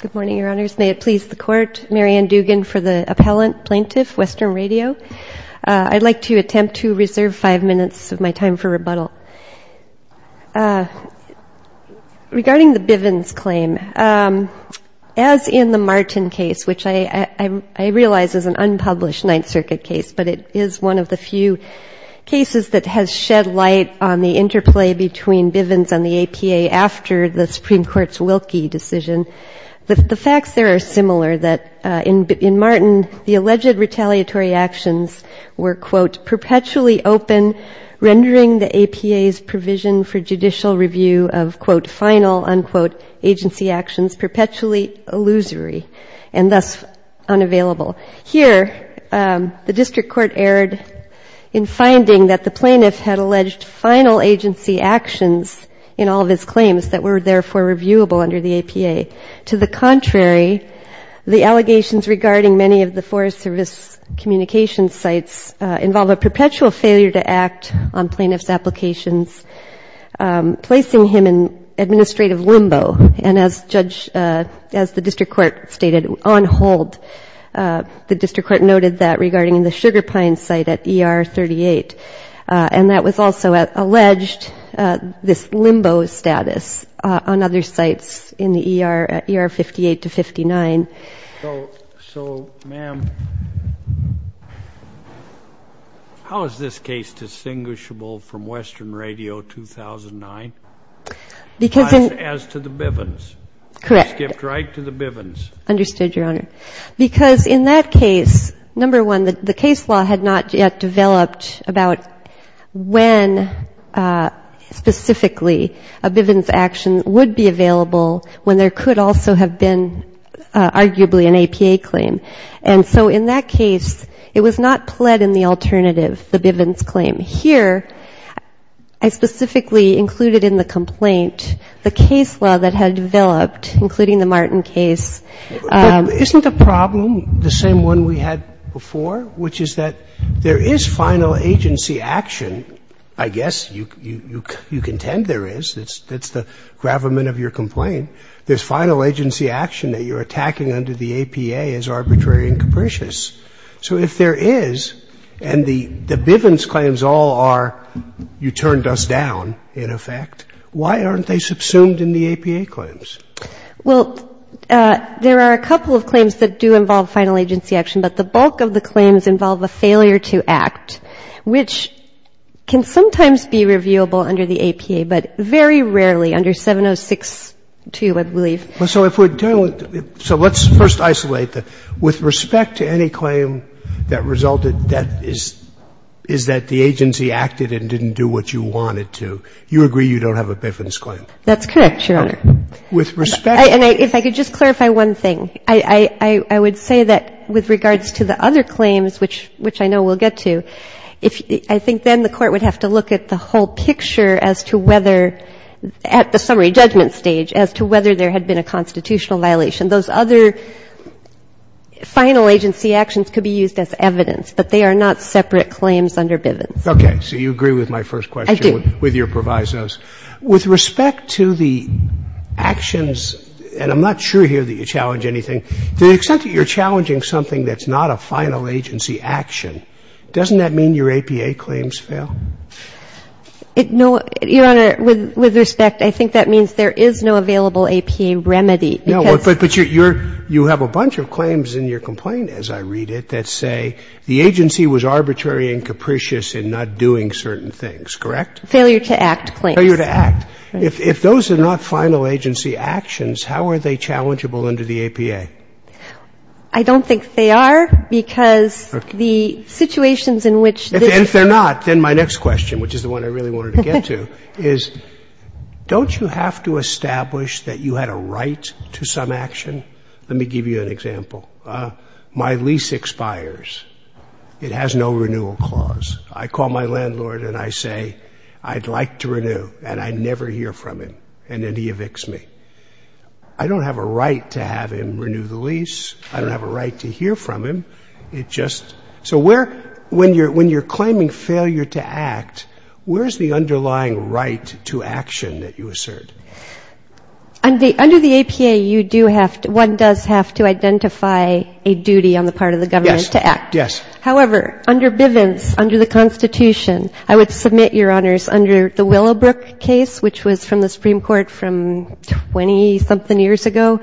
Good morning, Your Honors. May it please the Court, Marianne Dugan for the Appellant, Plaintiff, Western Radio. I'd like to attempt to reserve five minutes of my time for rebuttal. Regarding the Bivens claim, as in the Martin case, which I realize is an unpublished Ninth Circuit case, but it is one of the few cases that has shed light on the interplay between Bivens and the APA after the Supreme Court's Wilkie decision, the facts there are similar. In Martin, the alleged retaliatory actions were, quote, perpetually open, rendering the APA's provision for judicial review of, quote, final, unquote, agency actions perpetually illusory and thus unavailable. Here, the District Court erred in finding that the plaintiff had alleged final agency actions in all of his claims that were therefore reviewable under the APA. To the contrary, the allegations regarding many of the Forest Service communication sites involve a perpetual failure to act on plaintiff's applications, placing him in administrative limbo, and as the District Court stated, on hold. The District Court noted that regarding the Sugar Pine site at ER 38, and that was also alleged, this limbo status on other sites in the ER at ER 58 to 59. So, ma'am, how is this case distinguishable from Western Radio 2009, as to the Bivens? Correct. Skipped right to the Bivens. Understood, Your Honor. Because in that case, number one, the case law had not yet developed about when, specifically, a Bivens action would be available when there could also have been, arguably, an APA claim. And so in that case, it was not pled in the alternative, the Bivens claim. Here, I specifically included in the complaint the case law that had developed, including the Martin case. But isn't the problem the same one we had before, which is that there is final agency action? I guess you contend there is. That's the gravamen of your complaint. There's final agency action that you're attacking under the APA as arbitrary and capricious. So if there is, and the Bivens claims all are, you turned us down, in effect, why aren't they subsumed in the APA claims? Well, there are a couple of claims that do involve final agency action, but the bulk of the claims involve a failure to act, which can sometimes be reviewable under the APA, but very rarely under 706-2, I believe. Well, so if we're dealing with the — so let's first isolate the — with respect to any claim that resulted, that is — is that the agency acted and didn't do what you wanted to, you agree you don't have a Bivens claim? With respect to — And if I could just clarify one thing. I would say that with regards to the other claims, which I know we'll get to, if — I think then the Court would have to look at the whole picture as to whether — at the summary judgment stage as to whether there had been a constitutional violation. Those other final agency actions could be used as evidence, but they are not separate claims under Bivens. Okay. So you agree with my first question with your provisos. I do. With respect to the actions — and I'm not sure here that you challenge anything — to the extent that you're challenging something that's not a final agency action, doesn't that mean your APA claims fail? No, Your Honor. With respect, I think that means there is no available APA remedy because — No, but you're — you have a bunch of claims in your complaint, as I read it, that say the agency was arbitrary and capricious in not doing certain things, correct? Failure to act claims. Failure to act. If those are not final agency actions, how are they challengeable under the APA? I don't think they are, because the situations in which — If they're not, then my next question, which is the one I really wanted to get to, is, don't you have to establish that you had a right to some action? Let me give you an example. My lease expires. It has no renewal clause. I call my landlord and I say, I'd like to renew, and I never hear from him, and then he evicts me. I don't have a right to have him renew the lease. I don't have a right to hear from him. It just — so where — when you're claiming failure to act, where is the underlying right to action that you assert? Under the APA, you do have to — one does have to identify a duty on the part of the government to act. Yes. Yes. However, under Bivens, under the Constitution, I would submit, Your Honors, under the Willowbrook case, which was from the Supreme Court from 20-something years ago,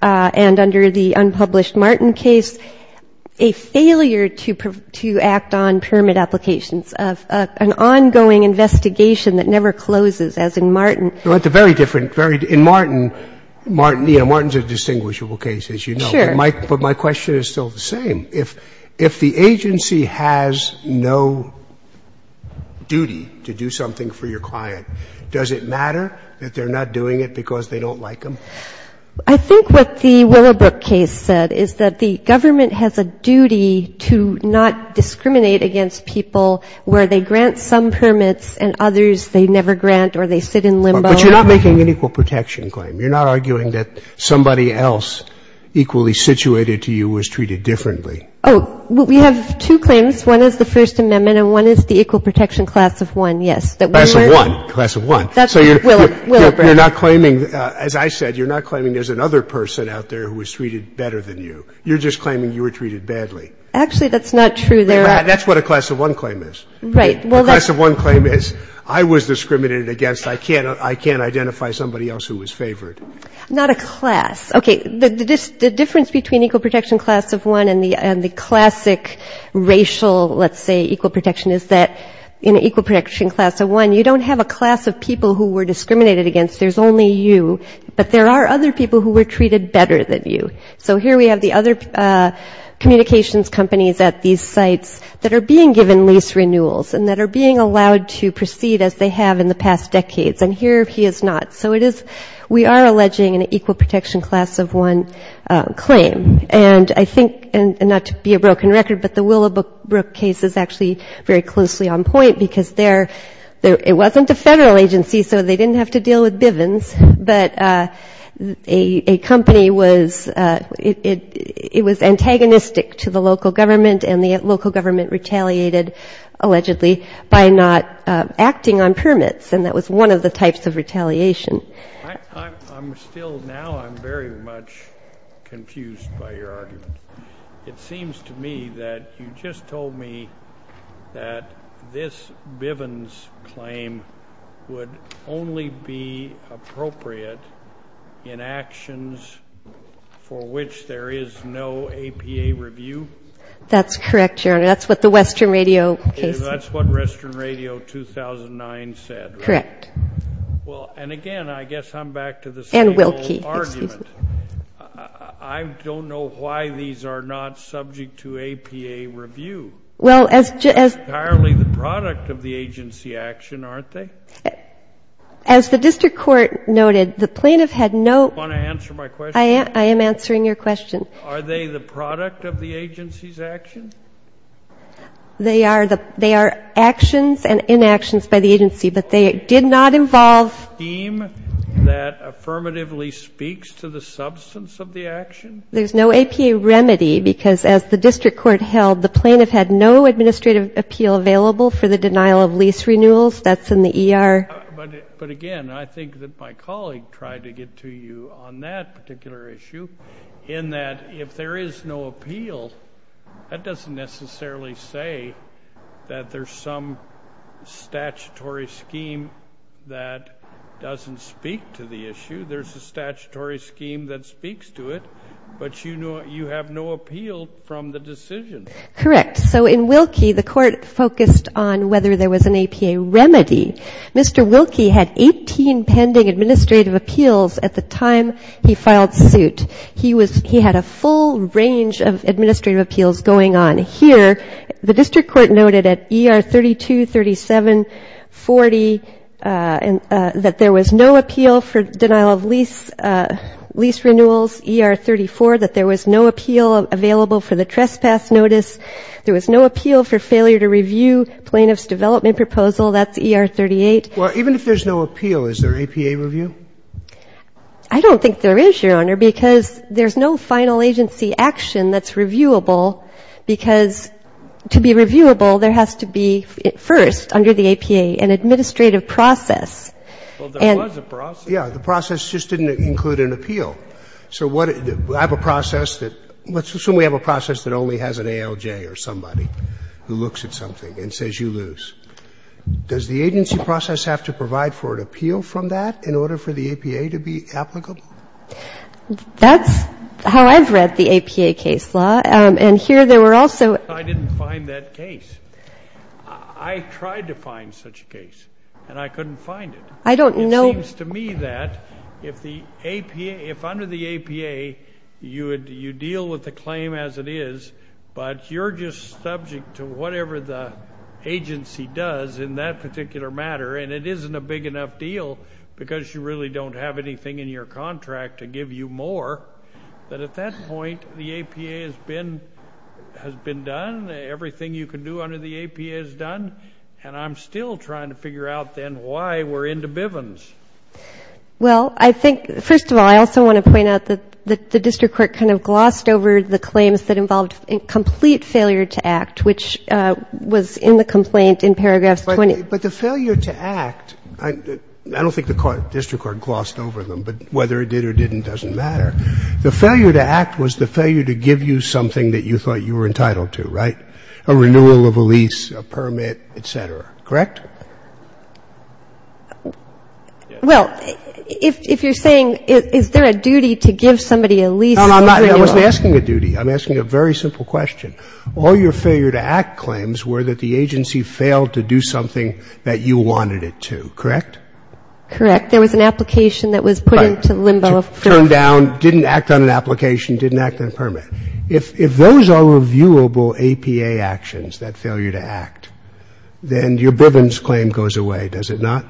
and under the unpublished Martin case, a failure to act on permit applications, an ongoing investigation that never closes, as in Martin. Well, it's a very different — in Martin, you know, Martin's a distinguishable case, as you know. Sure. But my question is still the same. If the agency has no duty to do something for your client, does it matter that they're not doing it because they don't like them? I think what the Willowbrook case said is that the government has a duty to not discriminate against people where they grant some permits and others they never grant or they sit in limbo. But you're not making an equal protection claim. You're not arguing that somebody else equally situated to you was treated differently. Oh. Well, we have two claims. One is the First Amendment and one is the equal protection class of one, yes. Class of one. Class of one. That's right. So you're not claiming — as I said, you're not claiming there's another person out there who was treated better than you. You're just claiming you were treated badly. Actually, that's not true. That's what a class of one claim is. Right. A class of one claim is I was discriminated against. I can't identify somebody else who was favored. Not a class. Okay. The difference between equal protection class of one and the classic racial, let's say, equal protection is that in equal protection class of one, you don't have a class of people who were discriminated against. There's only you. But there are other people who were treated better than you. So here we have the other communications companies at these sites that are being given lease renewals and that are being allowed to proceed as they have in the past decades. And here he is not. So it is — we are alleging an equal protection class of one claim. And I think — and not to be a broken record, but the Willowbrook case is actually very closely on point because they're — it wasn't a federal agency, so they didn't have to deal with Bivens. But a company was — it was antagonistic to the local government, and the local government retaliated, allegedly, by not acting on permits. And that was one of the types of retaliation. I'm still — now I'm very much confused by your argument. It seems to me that you just told me that this Bivens claim would only be appropriate in actions for which there is no APA review. That's correct, Your Honor. That's what the Western Radio case — That's what Western Radio 2009 said, right? Correct. Well, and again, I guess I'm back to the same old argument. And Wilkie, excuse me. I don't know why these are not subject to APA review. That's entirely the product of the agency action, aren't they? As the district court noted, the plaintiff had no — Do you want to answer my question? I am answering your question. Are they the product of the agency's action? They are actions and inactions by the agency, but they did not involve — A scheme that affirmatively speaks to the substance of the action? There's no APA remedy, because as the district court held, the plaintiff had no administrative appeal available for the denial of lease renewals. That's in the ER. But again, I think that my colleague tried to get to you on that particular issue, in that if there is no appeal, that doesn't necessarily say that there's some statutory scheme that doesn't speak to the issue. There's a statutory scheme that speaks to it, but you have no appeal from the decision. Correct. So in Wilkie, the court focused on whether there was an APA remedy. Mr. Wilkie had 18 pending administrative appeals at the time he filed suit. He was — he had a full range of administrative appeals going on here. The district court noted at ER 32, 37, 40, that there was no appeal for denial of lease renewals, ER 34, that there was no appeal available for the trespass notice. There was no appeal for failure to review plaintiff's development proposal. That's ER 38. Well, even if there's no appeal, is there APA review? I don't think there is, Your Honor, because there's no final agency action that's reviewable, because to be reviewable, there has to be first under the APA an administrative process. Well, there was a process. Yeah. The process just didn't include an appeal. So what — I have a process that — let's assume we have a process that only has an appeal, does the agency process have to provide for an appeal from that in order for the APA to be applicable? That's how I've read the APA case law. And here there were also — I didn't find that case. I tried to find such a case, and I couldn't find it. I don't know — It seems to me that if the APA — if under the APA, you deal with the claim as it is, but you're just subject to whatever the agency does in that particular matter, and it isn't a big enough deal because you really don't have anything in your contract to give you more, that at that point, the APA has been done. Everything you can do under the APA is done. And I'm still trying to figure out, then, why we're into Bivens. Well, I think — first of all, I also want to point out that the district court kind of glossed over the claims that involved a complete failure to act, which was in the complaint in paragraphs 20. But the failure to act — I don't think the district court glossed over them, but whether it did or didn't doesn't matter. The failure to act was the failure to give you something that you thought you were entitled to, right? A renewal of a lease, a permit, et cetera. Correct? No, no, I'm not — I wasn't asking a duty. I'm asking a very simple question. All your failure to act claims were that the agency failed to do something that you wanted it to. Correct? Correct. There was an application that was put into limbo. Turned down, didn't act on an application, didn't act on a permit. If those are reviewable APA actions, that failure to act, then your Bivens claim goes away, does it not?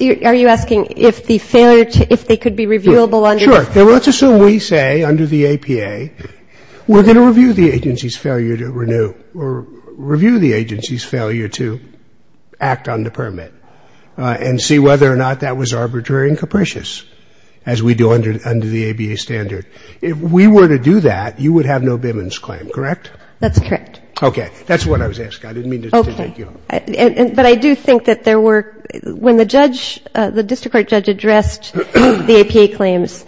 Are you asking if the failure to — if they could be reviewable under — Sure. Let's assume we say under the APA, we're going to review the agency's failure to renew or review the agency's failure to act on the permit and see whether or not that was arbitrary and capricious, as we do under the ABA standard. If we were to do that, you would have no Bivens claim, correct? That's correct. Okay. That's what I was asking. I didn't mean to take you off. Okay. But I do think that there were — when the judge, the district court judge addressed the APA claims,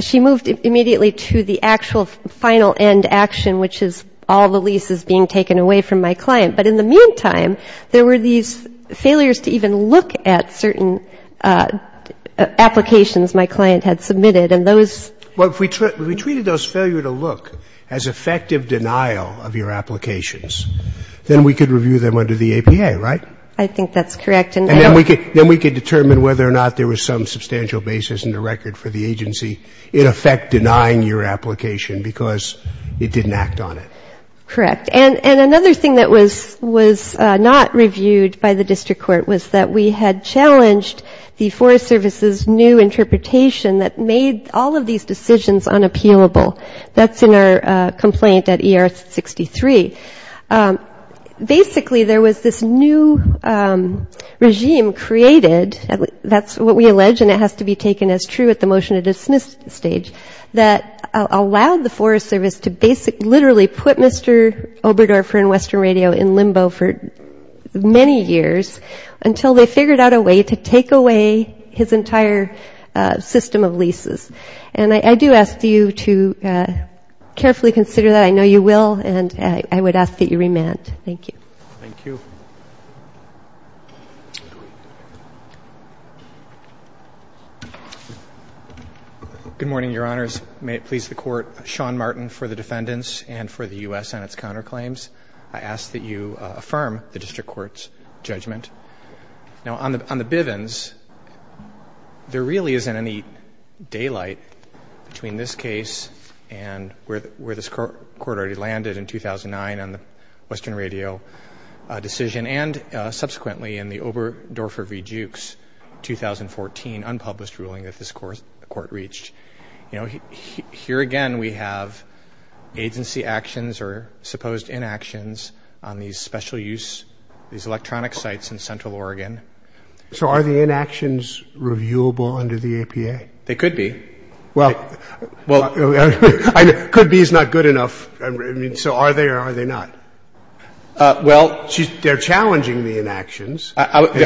she moved immediately to the actual final end action, which is all the leases being taken away from my client. But in the meantime, there were these failures to even look at certain applications my client had submitted, and those — Well, if we treated those failure to look as effective denial of your applications, then we could review them under the APA, right? I think that's correct. And then we could determine whether or not there was some substantial basis in the record for the agency in effect denying your application because it didn't act on it. Correct. And another thing that was not reviewed by the district court was that we had challenged the Forest Service's new interpretation that made all of these decisions unappealable. That's in our complaint at ER 63. Basically, there was this new regime created — that's what we allege, and it has to be taken as true at the motion-to-dismiss stage — that allowed the Forest Service to basically literally put Mr. Oberdorfer and Western Radio in limbo for many years until they figured out a way to take away his entire system of leases. And I do ask you to carefully consider that. I know you will, and I would ask that you remand. Thank you. Thank you. Good morning, Your Honors. May it please the Court, Sean Martin for the defendants and for the U.S. on its counterclaims, I ask that you affirm the district court's judgment. Now, on the Bivens, there really isn't any daylight between this case and where this court already landed in 2009 on the Western Radio decision and subsequently in the Oberdorfer v. Jukes 2014 unpublished ruling that this court reached. You know, here again we have agency actions or supposed inactions on these special-use — these electronic sites in central Oregon. So are the inactions reviewable under the APA? They could be. Well — Well — Could be is not good enough. So are they or are they not? Well — They're challenging the inactions.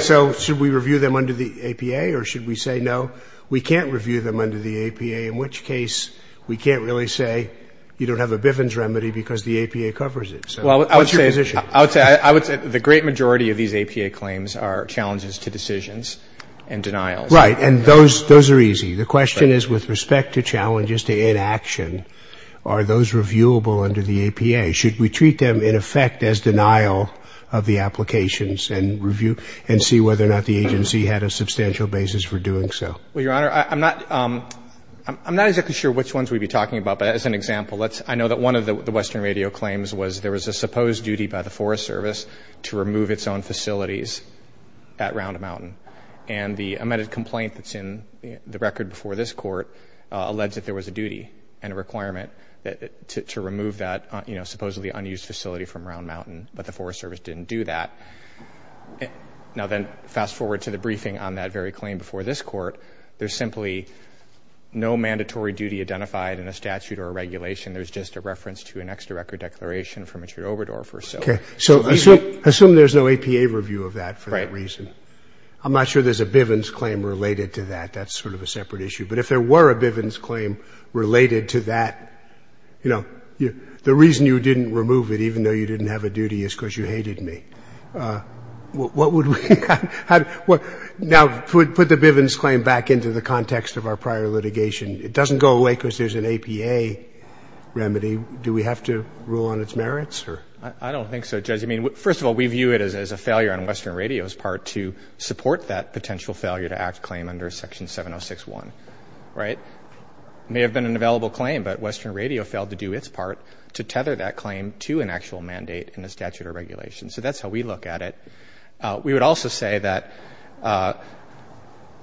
So should we review them under the APA or should we say, no, we can't review them under the APA, in which case we can't really say you don't have a Bivens remedy because the APA covers it. So what's your position? I would say the great majority of these APA claims are challenges to decisions and denials. Right. And those are easy. The question is with respect to challenges to inaction, are those reviewable under the APA? Should we treat them in effect as denial of the applications and review and see whether or not the agency had a substantial basis for doing so? Well, Your Honor, I'm not — I'm not exactly sure which ones we'd be talking about. But as an example, let's — I know that one of the Western Radio claims was there was a supposed duty by the Forest Service to remove its own facilities at Round-a-Mountain. And the amended complaint that's in the record before this Court alleged that there was a duty and a requirement to remove that, you know, supposedly unused facility from Round-a-Mountain. But the Forest Service didn't do that. Now then, fast forward to the briefing on that very claim before this Court. There's simply no mandatory duty identified in a statute or a regulation. There's just a reference to an extra record declaration from a true overdorfer. Okay. So assume there's no APA review of that for that reason. I'm not sure there's a Bivens claim related to that. That's sort of a separate issue. But if there were a Bivens claim related to that, you know, the reason you didn't remove it, even though you didn't have a duty, is because you hated me. What would we — now, put the Bivens claim back into the context of our prior litigation. It doesn't go away because there's an APA remedy. Do we have to rule on its merits? I don't think so, Judge. I mean, first of all, we view it as a failure on Western Radio's part to support that potential failure-to-act claim under Section 706.1, right? It may have been an available claim, but Western Radio failed to do its part to tether that claim to an actual mandate in a statute or regulation. So that's how we look at it. We would also say that,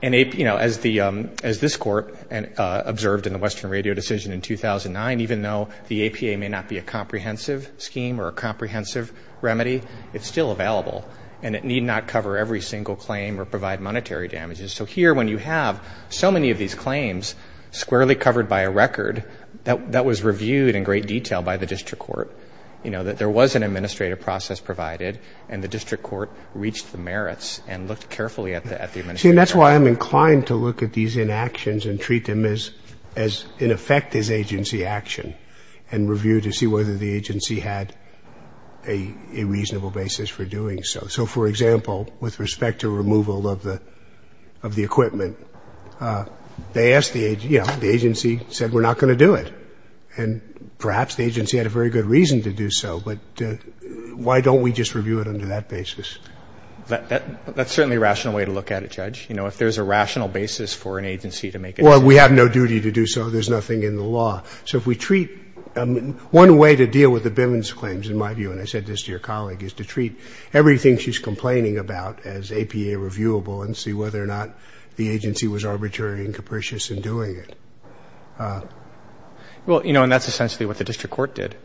you know, as this Court observed in the Western Radio decision in 2009, even though the APA may not be a comprehensive scheme or a comprehensive remedy, it's still available. And it need not cover every single claim or provide monetary damages. So here, when you have so many of these claims squarely covered by a record that was reviewed in great detail by the district court, you know, that there was an administrative process provided, and the district court reached the merits and looked carefully at the administrative process. You see, and that's why I'm inclined to look at these inactions and treat them as, in effect, as agency action and review to see whether the agency had a reasonable basis for doing so. So, for example, with respect to removal of the equipment, they asked the agency, you know, the agency said we're not going to do it. And perhaps the agency had a very good reason to do so, but why don't we just review it under that basis? That's certainly a rational way to look at it, Judge. You know, if there's a rational basis for an agency to make a decision. Well, we have no duty to do so. There's nothing in the law. So if we treat one way to deal with the Billings claims, in my view, and I said this to your colleague, is to treat everything she's complaining about as APA reviewable and see whether or not the agency was arbitrary and capricious in doing it. Well, you know, and that's essentially what the district court did.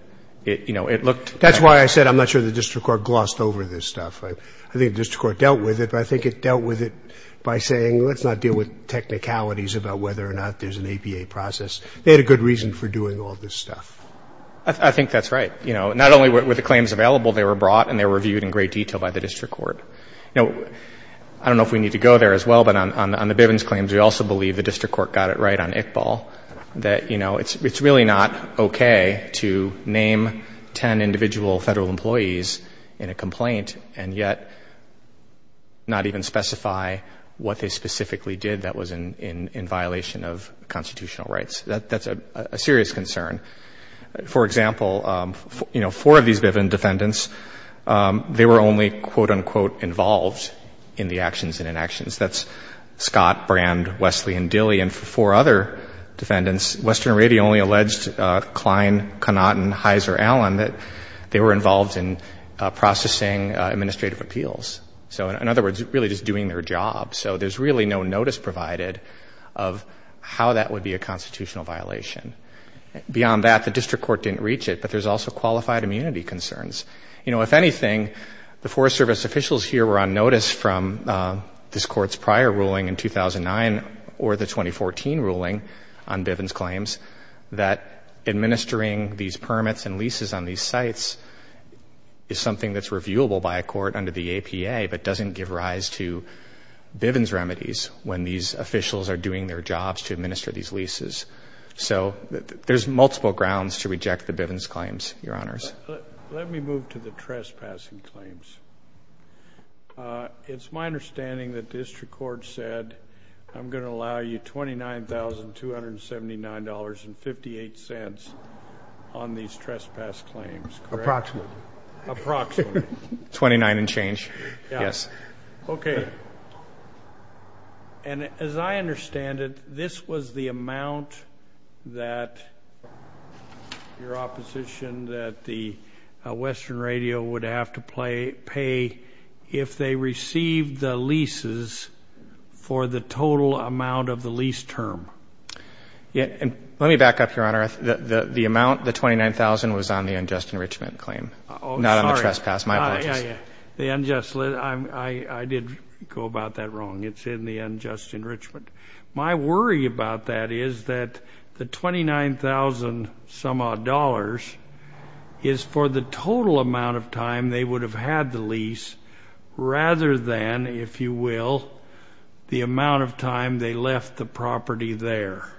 It, you know, it looked. That's why I said I'm not sure the district court glossed over this stuff. I think the district court dealt with it, but I think it dealt with it by saying let's not deal with technicalities about whether or not there's an APA process. They had a good reason for doing all this stuff. I think that's right. You know, not only were the claims available, they were brought and they were reviewed in great detail by the district court. You know, I don't know if we need to go there as well, but on the Billings claims, we also believe the district court got it right on Iqbal that, you know, it's really not okay to name ten individual Federal employees in a complaint and yet not even specify what they specifically did that was in violation of constitutional rights. That's a serious concern. For example, you know, four of these Biven defendants, they were only, quote, unquote, involved in the actions and inactions. That's Scott, Brand, Wesley, and Dilley. And for four other defendants, Western Radio only alleged Klein, Connaughton, Heiser, Allen, that they were involved in processing administrative appeals. So, in other words, really just doing their job. So there's really no notice provided of how that would be a constitutional violation. Beyond that, the district court didn't reach it, but there's also qualified immunity concerns. You know, if anything, the Forest Service officials here were on notice from this court's prior ruling in 2009 or the 2014 ruling on Biven's claims that administering these permits and leases on these sites is something that's reviewable by a court under the APA but doesn't give rise to Biven's remedies when these officials are doing their jobs to administer these leases. So there's multiple grounds to reject the Biven's claims, Your Honors. Let me move to the trespassing claims. It's my understanding that district court said, I'm going to allow you $29,279.58 on these trespass claims. Approximately. Approximately. Twenty-nine and change. Yes. Okay. And as I understand it, this was the amount that your opposition, that the Western Radio would have to pay if they received the leases for the total amount of the lease term. Let me back up, Your Honor. The amount, the $29,000, was on the unjust enrichment claim. Oh, sorry. Not on the trespass. My apologies. The unjust, I did go about that wrong. It's in the unjust enrichment. My worry about that is that the $29,000-some-odd is for the total amount of time they would have had the lease rather than, if you will, the amount of time they left the property there.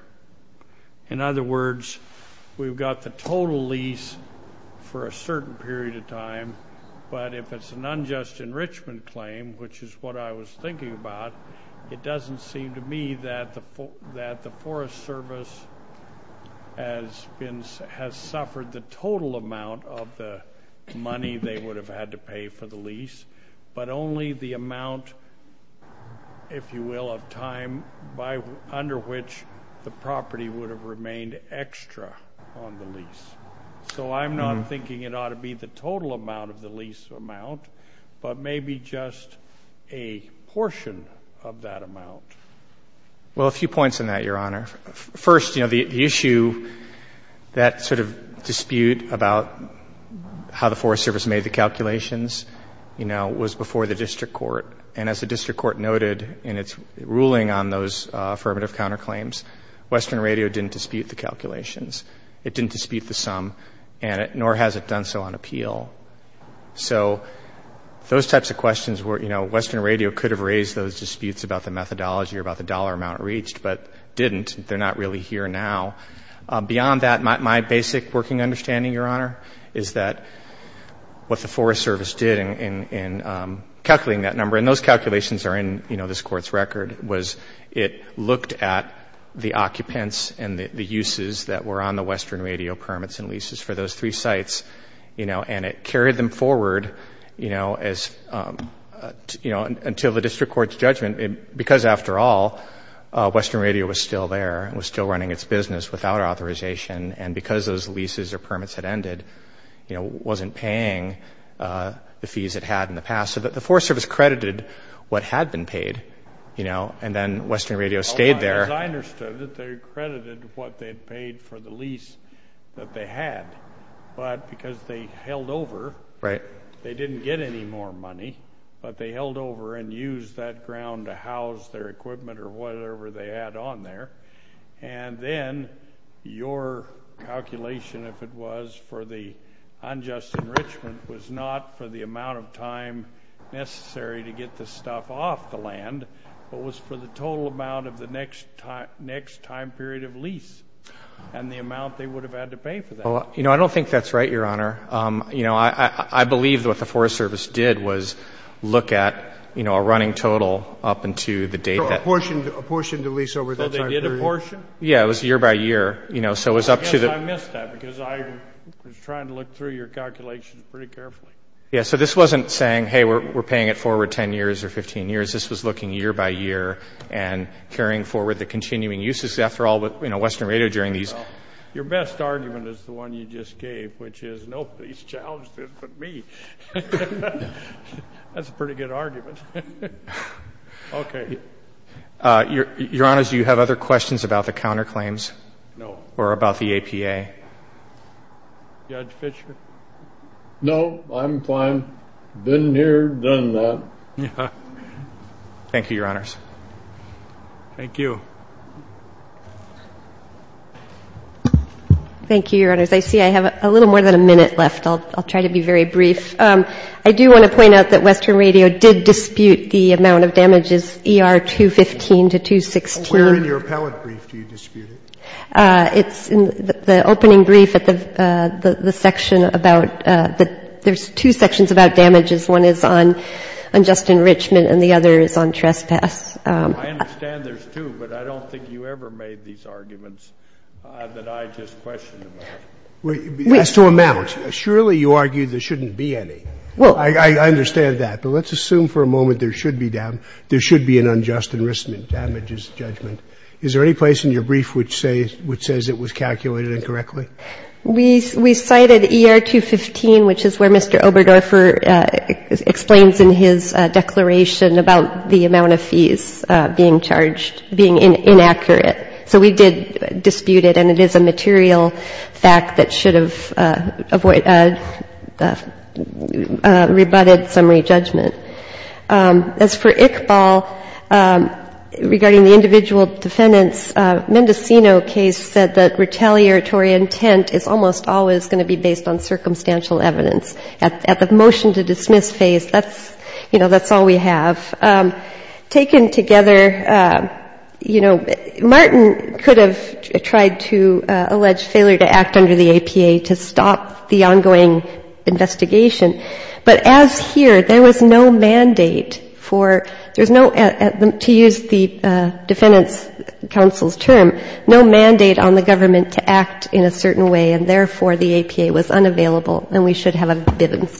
In other words, we've got the total lease for a certain period of time, but if it's an unjust enrichment claim, which is what I was thinking about, it doesn't seem to me that the Forest Service has suffered the total amount of the money they would have had to pay for the lease, but only the amount, if you will, of time under which the property would have remained extra on the lease. So I'm not thinking it ought to be the total amount of the lease amount, but maybe just a portion of that amount. Well, a few points on that, Your Honor. First, you know, the issue, that sort of dispute about how the Forest Service made the calculations, you know, was before the district court. And as the district court noted in its ruling on those affirmative counterclaims, Western Radio didn't dispute the calculations. It didn't dispute the sum, nor has it done so on appeal. So those types of questions were, you know, Western Radio could have raised those disputes about the methodology or about the dollar amount reached, but didn't. They're not really here now. Beyond that, my basic working understanding, Your Honor, is that what the Forest Service did in calculating that number, and those calculations are in, you know, this Court's record, was it looked at the occupants and the uses that were on the Western Radio permits and leases for those three sites, you know, and it carried them forward, you know, until the district court's judgment. Because, after all, Western Radio was still there and was still running its business without authorization, and because those leases or permits had ended, you know, wasn't paying the fees it had in the past. So the Forest Service credited what had been paid, you know, and then Western Radio stayed there. As I understood it, they credited what they had paid for the lease that they had, but because they held over, they didn't get any more money, but they held over and used that ground to house their equipment or whatever they had on there, and then your calculation, if it was, for the unjust enrichment was not for the amount of time necessary to get the stuff off the land, but was for the total amount of the next time period of lease and the amount they would have had to pay for that. Well, you know, I don't think that's right, Your Honor. You know, I believe what the Forest Service did was look at, you know, a running total up until the date that... So a portion of the lease over that time period. So they did a portion? Yeah, it was year by year, you know, so it was up to the... I guess I missed that because I was trying to look through your calculations pretty carefully. Yeah, so this wasn't saying, hey, we're paying it forward 10 years or 15 years. This was looking year by year and carrying forward the continuing uses. After all, you know, Western Radio during these... Your best argument is the one you just gave, which is nobody's challenged it but me. That's a pretty good argument. Okay. Your Honor, do you have other questions about the counterclaims or about the APA? Judge Fischer? No, I'm fine. Been here, done that. Thank you, Your Honors. Thank you. Thank you, Your Honors. I see I have a little more than a minute left. I'll try to be very brief. I do want to point out that Western Radio did dispute the amount of damages, ER 215 to 216. Where in your appellate brief do you dispute it? It's in the opening brief at the section about... There's two sections about damages. One is on unjust enrichment and the other is on trespass. I understand there's two, but I don't think you ever made these arguments that I just questioned about. As to amount, surely you argue there shouldn't be any. I understand that. But let's assume for a moment there should be an unjust enrichment damages judgment. Is there any place in your brief which says it was calculated incorrectly? We cited ER 215, which is where Mr. Oberdorfer explains in his declaration about the amount of fees being charged, being inaccurate. So we did dispute it, and it is a material fact that should have rebutted summary judgment. As for Iqbal, regarding the individual defendants, Mendocino case said that retaliatory intent is almost always going to be based on circumstantial evidence. At the motion to dismiss phase, that's, you know, that's all we have. Taken together, you know, Martin could have tried to allege failure to act under the APA to stop the ongoing investigation. But as here, there was no mandate for, there's no, to use the defendants' counsel's term, no mandate on the government to act in a certain way, and therefore the APA was unavailable, and we should have a bivens claim.